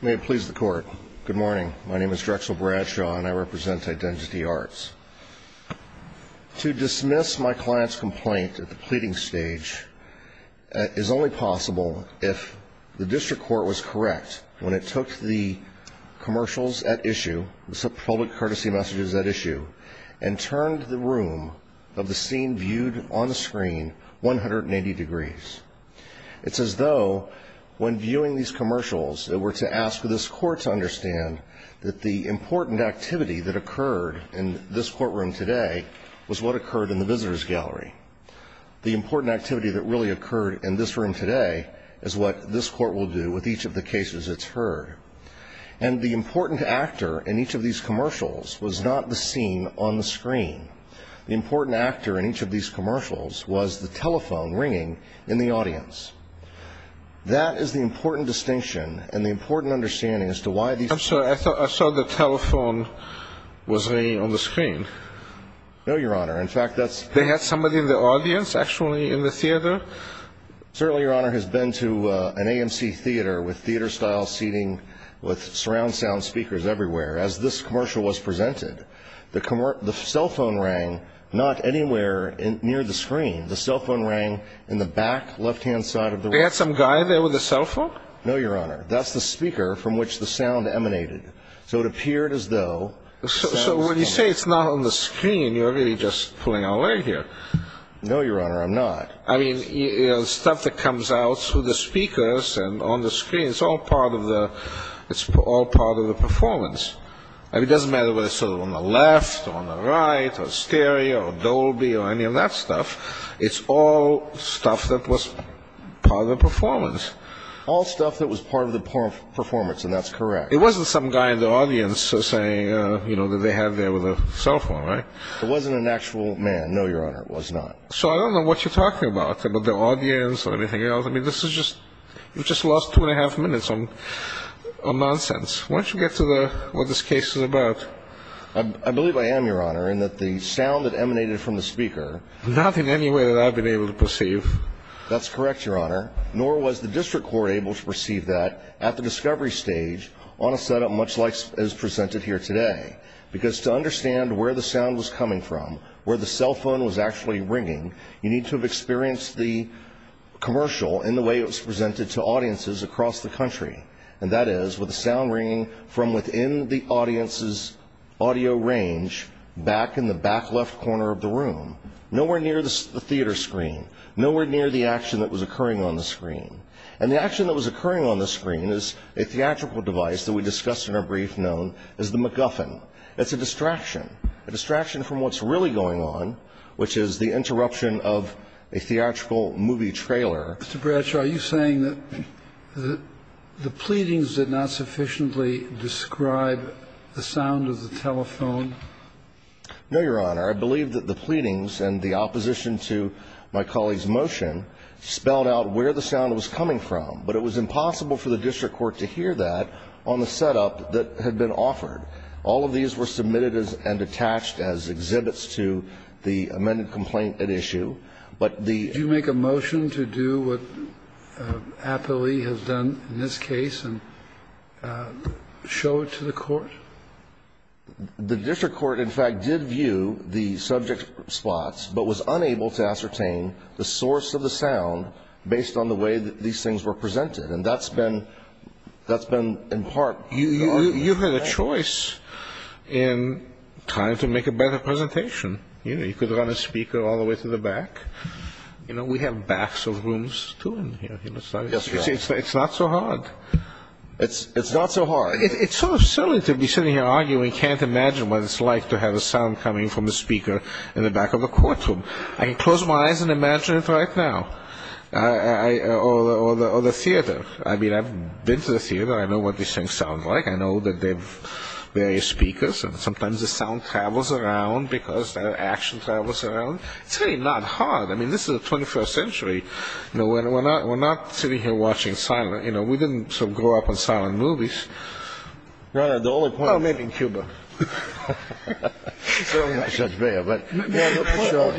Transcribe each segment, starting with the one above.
May it please the court. Good morning. My name is Drexel Bradshaw and I represent Identity Arts. To dismiss my client's complaint at the pleading stage is only possible if the district court was correct when it took the commercials at issue, the public courtesy messages at issue, and turned the room of the scene viewed on the screen 180 degrees. It's as though when viewing these commercials it were to ask this court to understand that the important activity that occurred in this courtroom today was what occurred in the visitor's gallery. The important activity that really occurred in this room today is what this court will do with each of the cases it's heard. And the important actor in each of these commercials was not the scene on the screen. The important actor in each of these commercials was the telephone ringing in the audience. That is the important distinction and the important understanding as to why these I'm sorry. I thought I saw the telephone was ringing on the screen. No, Your Honor. In fact, that's They had somebody in the audience actually in the theater? Certainly, Your Honor, has been to an AMC theater with theater style seating with surround sound speakers everywhere. As this commercial was presented, the cell phone rang not anywhere near the screen. The cell phone rang in the back left-hand side of the room. They had some guy there with a cell phone? No, Your Honor. That's the speaker from which the sound emanated. So it appeared as though So when you say it's not on the screen, you're really just pulling a leg here. No, Your Honor, I'm not. I mean, stuff that comes out through the speakers and on the screen, it's all part of the performance. I mean, it doesn't matter whether it's on the left or on the right or stereo or Dolby or any of that stuff. It's all stuff that was part of the performance. All stuff that was part of the performance, and that's correct. It wasn't some guy in the audience saying that they had there with a cell phone, right? It wasn't an actual man. No, Your Honor, it was not. So I don't know what you're talking about, about the audience or anything else. I mean, this is just you've just lost two and a half minutes on nonsense. Why don't you get to what this case is about? I believe I am, Your Honor, in that the sound that emanated from the speaker Not in any way that I've been able to perceive. That's correct, Your Honor, nor was the District Court able to perceive that at the discovery stage on a setup much like is presented here today. Because to understand where the sound was coming from, where the cell phone was actually ringing, you need to have experienced the commercial in the way it was presented to audiences across the country. And that is with the sound ringing from within the audience's audio range back in the back left corner of the room, nowhere near the theater screen, nowhere near the action that was occurring on the screen. And the action that was occurring on the screen is a theatrical device that we discussed in our brief known as the MacGuffin. It's a distraction, a distraction from what's really going on, which is the interruption of a theatrical movie trailer. Mr. Bradshaw, are you saying that the pleadings did not sufficiently describe the sound of the telephone? No, Your Honor. I believe that the pleadings and the opposition to my colleague's motion spelled out where the sound was coming from. But it was impossible for the District Court to hear that on the setup that had been offered. All of these were submitted and attached as exhibits to the amended complaint at issue. But the ---- Did you make a motion to do what Applee has done in this case and show it to the Court? The District Court, in fact, did view the subject spots but was unable to ascertain the source of the sound based on the way that these things were presented. And that's been in part ---- You had a choice in trying to make a better presentation. You know, you could run a speaker all the way to the back. You know, we have backs of rooms too in here. Yes, Your Honor. It's not so hard. It's not so hard. It's sort of silly to be sitting here arguing, can't imagine what it's like to have a sound coming from the speaker in the back of the courtroom. I can close my eyes and imagine it right now. Or the theater. I mean, I've been to the theater. I know what these things sound like. I know that they have various speakers and sometimes the sound travels around because the action travels around. It's really not hard. I mean, this is the 21st century. We're not sitting here watching silent. You know, we didn't grow up on silent movies. Your Honor, the only point ---- Oh, maybe in Cuba.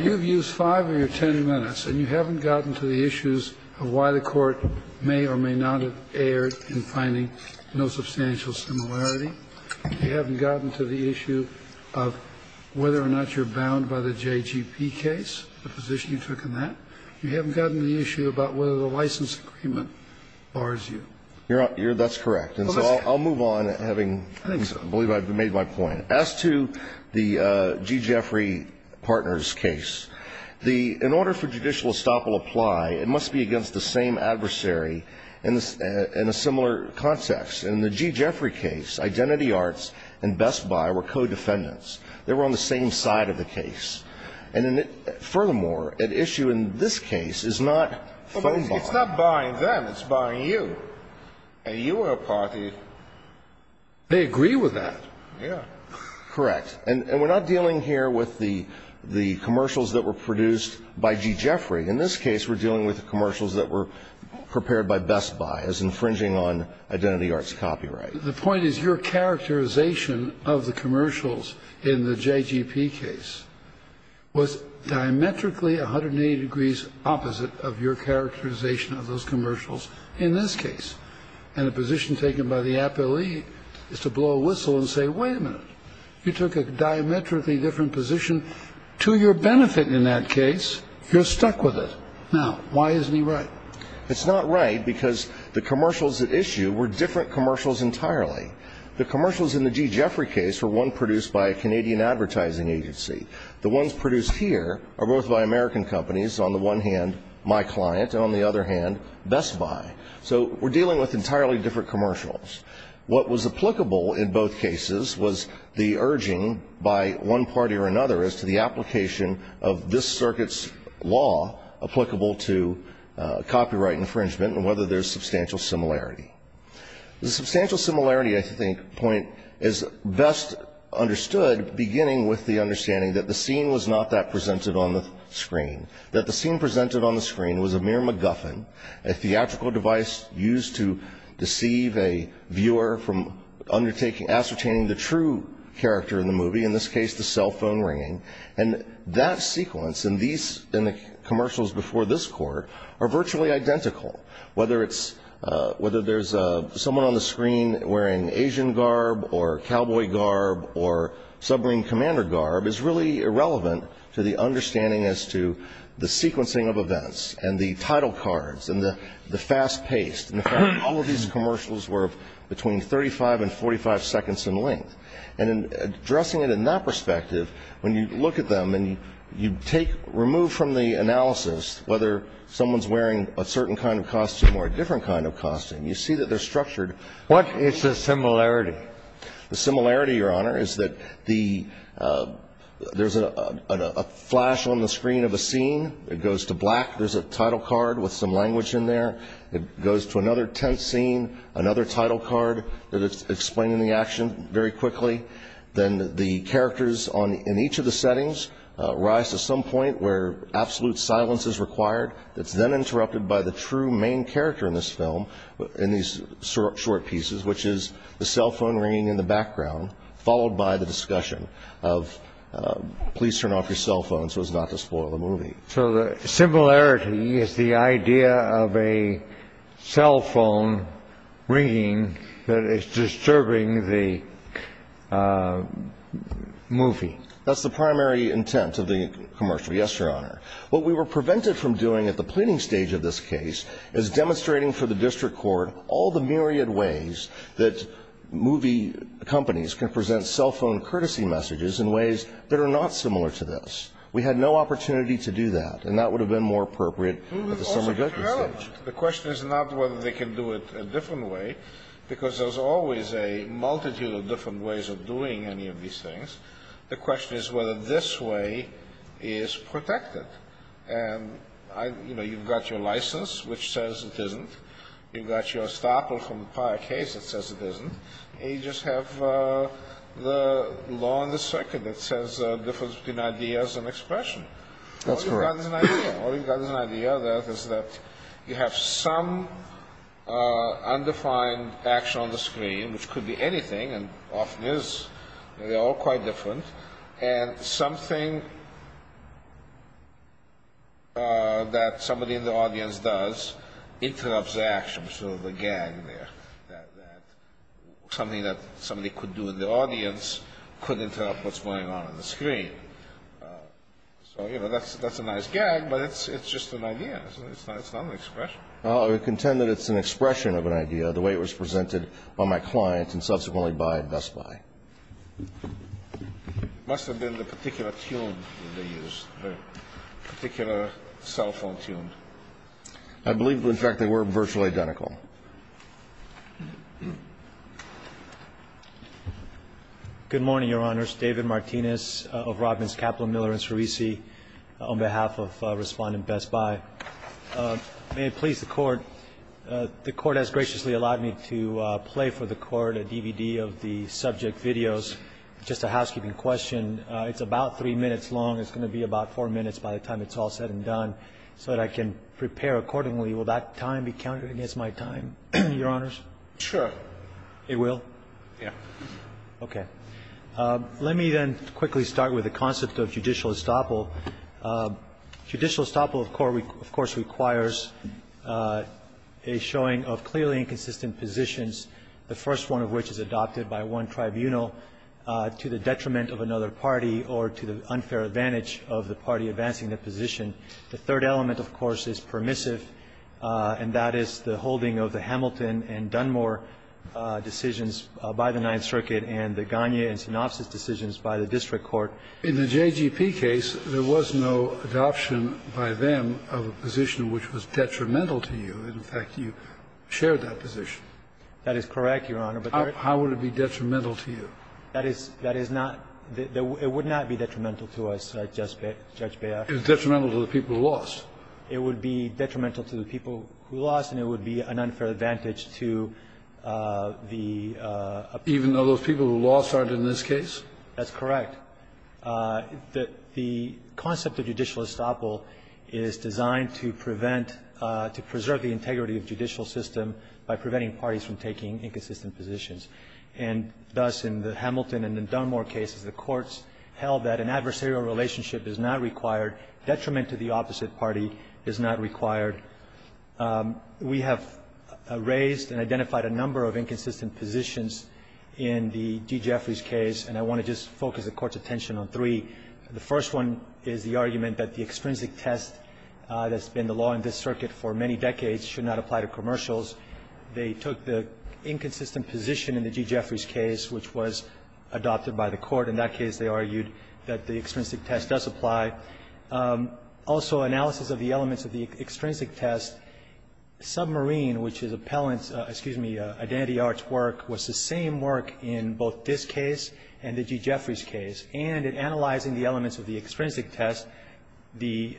You've used five of your ten minutes and you haven't gotten to the issues of why the court may or may not have erred in finding no substantial similarity. You haven't gotten to the issue of whether or not you're bound by the JGP case, the position you took in that. You haven't gotten to the issue about whether the license agreement bars you. Your Honor, that's correct. And so I'll move on having, I believe I've made my point. As to the G. Jeffrey Partners case, in order for judicial estoppel to apply, it must be against the same adversary in a similar context. In the G. Jeffrey case, Identity Arts and Best Buy were co-defendants. They were on the same side of the case. And furthermore, an issue in this case is not foe buying. It's not buying them. It's buying you. And you were a party. They agree with that. Yeah. Correct. And we're not dealing here with the commercials that were produced by G. Jeffrey. In this case, we're dealing with the commercials that were prepared by Best Buy as infringing on Identity Arts copyright. The point is your characterization of the commercials in the J.G.P. case was diametrically 180 degrees opposite of your characterization of those commercials in this case. And the position taken by the appellee is to blow a whistle and say, wait a minute. You took a diametrically different position to your benefit in that case. You're stuck with it. Now, why isn't he right? It's not right because the commercials at issue were different commercials entirely. The commercials in the G. Jeffrey case were one produced by a Canadian advertising agency. The ones produced here are both by American companies. On the one hand, my client, and on the other hand, Best Buy. So we're dealing with entirely different commercials. What was applicable in both cases was the urging by one party or another as to the application of this circuit's law applicable to copyright infringement and whether there's substantial similarity. The substantial similarity, I think, point is best understood beginning with the understanding that the scene was not that presented on the screen. That the scene presented on the screen was a mere MacGuffin, a theatrical device used to deceive a viewer from ascertaining the true character in the movie, in this case the cell phone ringing. And that sequence in the commercials before this court are virtually identical. Whether there's someone on the screen wearing Asian garb or cowboy garb or submarine commander garb is really irrelevant to the understanding as to the sequencing of events and the title cards and the fast pace. In fact, all of these commercials were between 35 and 45 seconds in length. And addressing it in that perspective, when you look at them and you take, remove from the analysis whether someone's wearing a certain kind of costume or a different kind of costume, you see that they're structured. What is the similarity? The similarity, Your Honor, is that there's a flash on the screen of a scene. It goes to black. There's a title card with some language in there. It goes to another tense scene, another title card that is explaining the action very quickly. Then the characters in each of the settings rise to some point where absolute silence is required. It's then interrupted by the true main character in this film, in these short pieces, which is the cell phone ringing in the background, followed by the discussion of please turn off your cell phones so as not to spoil the movie. So the similarity is the idea of a cell phone ringing that is disturbing the movie. That's the primary intent of the commercial. Yes, Your Honor. What we were prevented from doing at the pleading stage of this case is demonstrating for the district court all the myriad ways that movie companies can present cell phone courtesy messages in ways that are not similar to this. We had no opportunity to do that. And that would have been more appropriate at the summary judgment stage. The question is not whether they can do it a different way, because there's always a multitude of different ways of doing any of these things. The question is whether this way is protected. And, you know, you've got your license, which says it isn't. You've got your estoppel from the prior case that says it isn't. And you just have the law on the circuit that says the difference between ideas and expression. That's correct. All you've got is an idea. All you've got is an idea that is that you have some undefined action on the screen, which could be anything and often is. They're all quite different. And something that somebody in the audience does interrupts the action. So the gag there that something that somebody could do in the audience could interrupt what's going on on the screen. So, you know, that's a nice gag, but it's just an idea. It's not an expression. I would contend that it's an expression of an idea the way it was presented by my client and subsequently by Best Buy. It must have been the particular tune they used, the particular cell phone tune. I believe, in fact, they were virtually identical. Good morning, Your Honors. David Martinez of Robbins Capital, Miller, and Cerisi, on behalf of Respondent Best Buy. May it please the Court. The Court has graciously allowed me to play for the Court a DVD of the subject videos. Just a housekeeping question. It's about three minutes long. It's going to be about four minutes by the time it's all said and done so that I can prepare accordingly. Will that time be counted against my time, Your Honors? Sure. It will? Yeah. Okay. Let me then quickly start with the concept of judicial estoppel. Judicial estoppel, of course, requires a showing of clearly inconsistent positions, the first one of which is adopted by one tribunal to the detriment of another party or to the unfair advantage of the party advancing the position. The third element, of course, is permissive, and that is the holding of the Hamilton and Dunmore decisions by the Ninth Circuit and the Gagne and Sinopsis decisions by the district court. In the JGP case, there was no adoption by them of a position which was detrimental to you. In fact, you shared that position. That is correct, Your Honor. How would it be detrimental to you? That is not the – it would not be detrimental to us, Judge Bayer. It was detrimental to the people who lost. It would be detrimental to the people who lost, and it would be an unfair advantage to the – Even though those people who lost aren't in this case? That's correct. The concept of judicial estoppel is designed to prevent – to preserve the integrity of the judicial system by preventing parties from taking inconsistent positions. And thus, in the Hamilton and Dunmore cases, the courts held that an adversarial relationship is not required, detriment to the opposite party is not required. We have raised and identified a number of inconsistent positions in the D. Jeffries case, and I want to just focus the Court's attention on three. The first one is the argument that the extrinsic test that's been the law in this circuit for many decades should not apply to commercials. They took the inconsistent position in the D. Jeffries case, which was adopted by the Court. In that case, they argued that the extrinsic test does apply. Also, analysis of the elements of the extrinsic test, submarine, which is appellant's identity arch work was the same work in both this case and the D. Jeffries case. And in analyzing the elements of the extrinsic test, the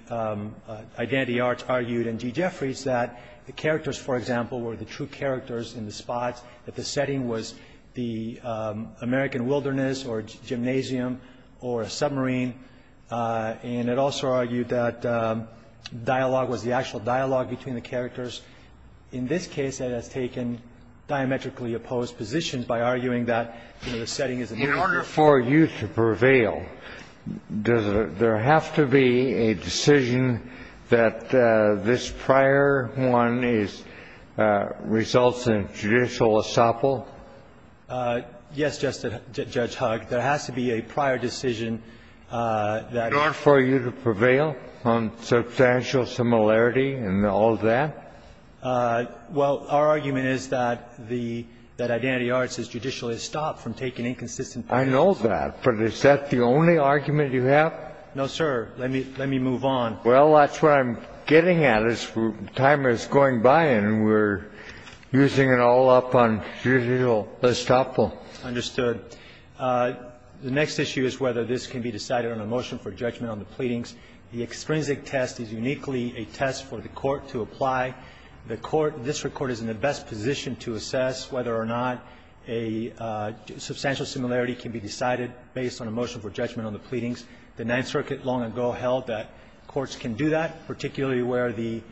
identity arch argued in D. Jeffries that the characters, for example, were the true characters in the spots, that the setting was the American wilderness or gymnasium or a submarine. And it also argued that dialogue was the actual dialogue between the characters. In this case, it has taken diametrically opposed positions by arguing that, you know, the setting is American wilderness. Kennedy, in order for you to prevail, does there have to be a decision that this prior one is results in judicial essapol? Yes, Judge Hugg. There has to be a prior decision that is. In order for you to prevail on substantial similarity and all of that? Well, our argument is that the identity arch is judicially estopped from taking inconsistent positions. I know that, but is that the only argument you have? No, sir. Let me move on. Well, that's what I'm getting at. Time is going by and we're using it all up on judicial estoppel. Understood. The next issue is whether this can be decided on a motion for judgment on the pleadings. The extrinsic test is uniquely a test for the court to apply. The court, district court, is in the best position to assess whether or not a substantial similarity can be decided based on a motion for judgment on the pleadings. The Ninth Circuit long ago held that courts can do that, particularly where the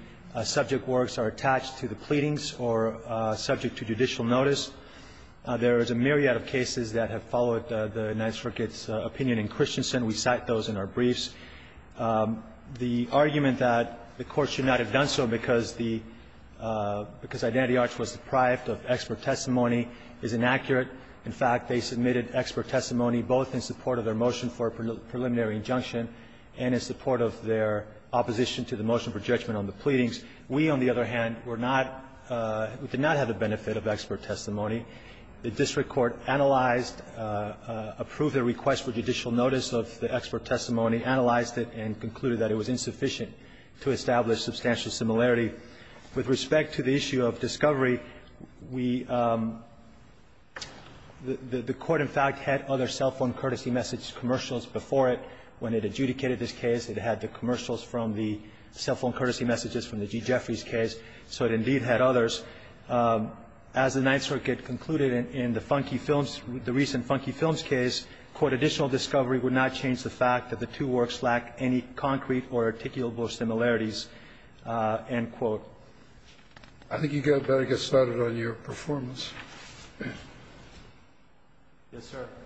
subject works are attached to the pleadings or subject to judicial notice. There is a myriad of cases that have followed the Ninth Circuit's opinion in Christensen. We cite those in our briefs. The argument that the court should not have done so because the identity arch was deprived of expert testimony is inaccurate. In fact, they submitted expert testimony both in support of their motion for a preliminary injunction and in support of their opposition to the motion for judgment on the pleadings. We, on the other hand, were not we did not have the benefit of expert testimony. The district court analyzed, approved their request for judicial notice of the expert testimony, analyzed it, and concluded that it was insufficient to establish substantial similarity. With respect to the issue of discovery, we the court in fact had other cell phone courtesy message commercials before it. When it adjudicated this case, it had the commercials from the cell phone courtesy messages from the G. Jeffries case. So it indeed had others. As the Ninth Circuit concluded in the Funky Films, the recent Funky Films case, court found that additional discovery would not change the fact that the two works lack any concrete or articulable similarities, end quote. I think you better get started on your performance. Yes, sir. Thank you. Thank you.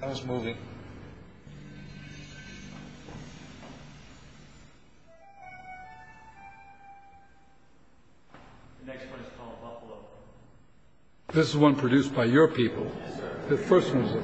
How's it moving? The next one is called Buffalo. This is one produced by your people. Yes, sir. The first one is a...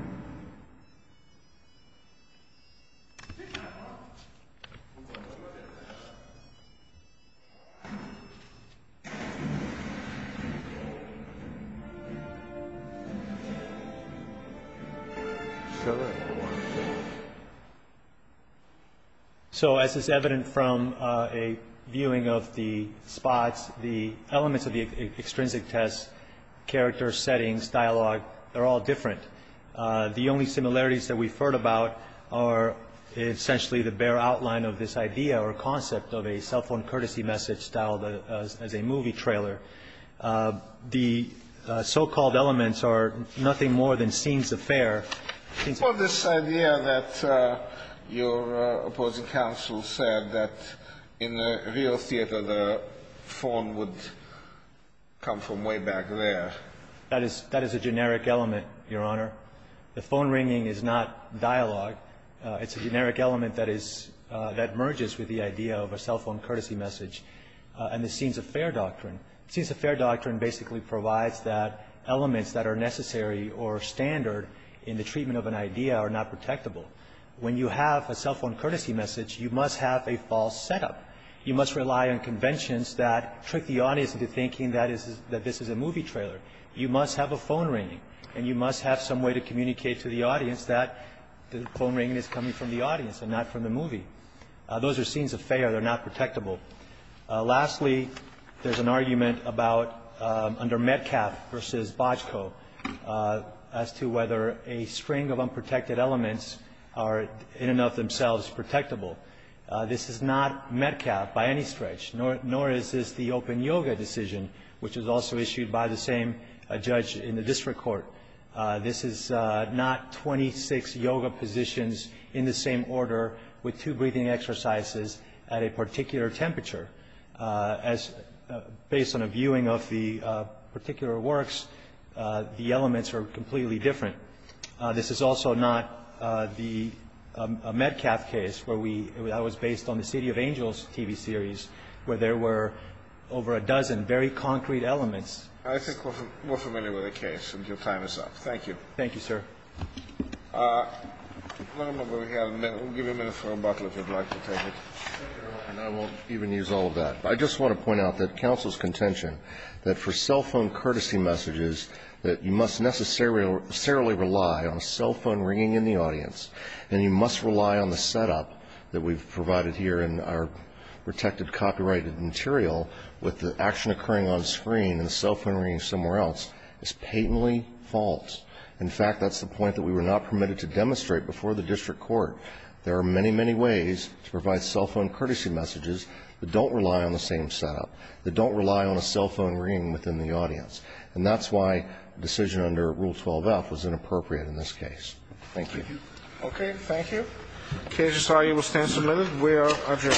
This one is called... This one is called... This one is called... This is called... The next one is called... Welcome to Nashville! It's coming from the mirror! The last one is the turn of the corpse. What is this loud moose over here? What is that? It's not a moose! It's a moose! It's a moose! The only similarities that we've heard about are essentially the bare outline of this idea or concept of a cell phone courtesy message styled as a movie trailer. The so-called elements are nothing more than scenes of fare. Well, this idea that your opposing counsel said that in a real theater the phone would come from way back there. That is a generic element, Your Honor. The phone ringing is not dialogue. It's a generic element that merges with the idea of a cell phone courtesy message and the scenes of fare doctrine. Scenes of fare doctrine basically provides that elements that are necessary or standard in the treatment of an idea are not protectable. When you have a cell phone courtesy message, you must have a false setup. You must rely on conventions that trick the audience into thinking that this is a movie trailer. You must have a phone ringing. And you must have some way to communicate to the audience that the phone ringing is coming from the audience and not from the movie. Those are scenes of fare. They're not protectable. Lastly, there's an argument under Metcalf versus Bojko as to whether a string of unprotected elements are in and of themselves protectable. This is not Metcalf by any stretch, nor is this the open yoga decision, which was also issued by the same judge in the district court. This is not 26 yoga positions in the same order with two breathing exercises at a particular temperature. Based on a viewing of the particular works, the elements are completely different. This is also not the Metcalf case where we – that was based on the City of Angels TV series where there were over a dozen very concrete elements. I think we're familiar with the case. Your time is up. Thank you. Thank you, sir. We'll give you a minute for rebuttal, if you'd like to take it. I won't even use all of that. I just want to point out that counsel's contention that for cell phone courtesy messages that you must necessarily rely on a cell phone ringing in the audience and you must rely on the setup that we've provided here in our protected copyrighted material with the action occurring on screen and the cell phone ringing somewhere else is patently false. In fact, that's the point that we were not permitted to demonstrate before the district court. There are many, many ways to provide cell phone courtesy messages that don't rely on the same setup, that don't rely on a cell phone ringing within the audience. And that's why a decision under Rule 12-F was inappropriate in this case. Thank you. Okay. Thank you. Okay. I'm sorry. You will stand for a minute. We are adjourned.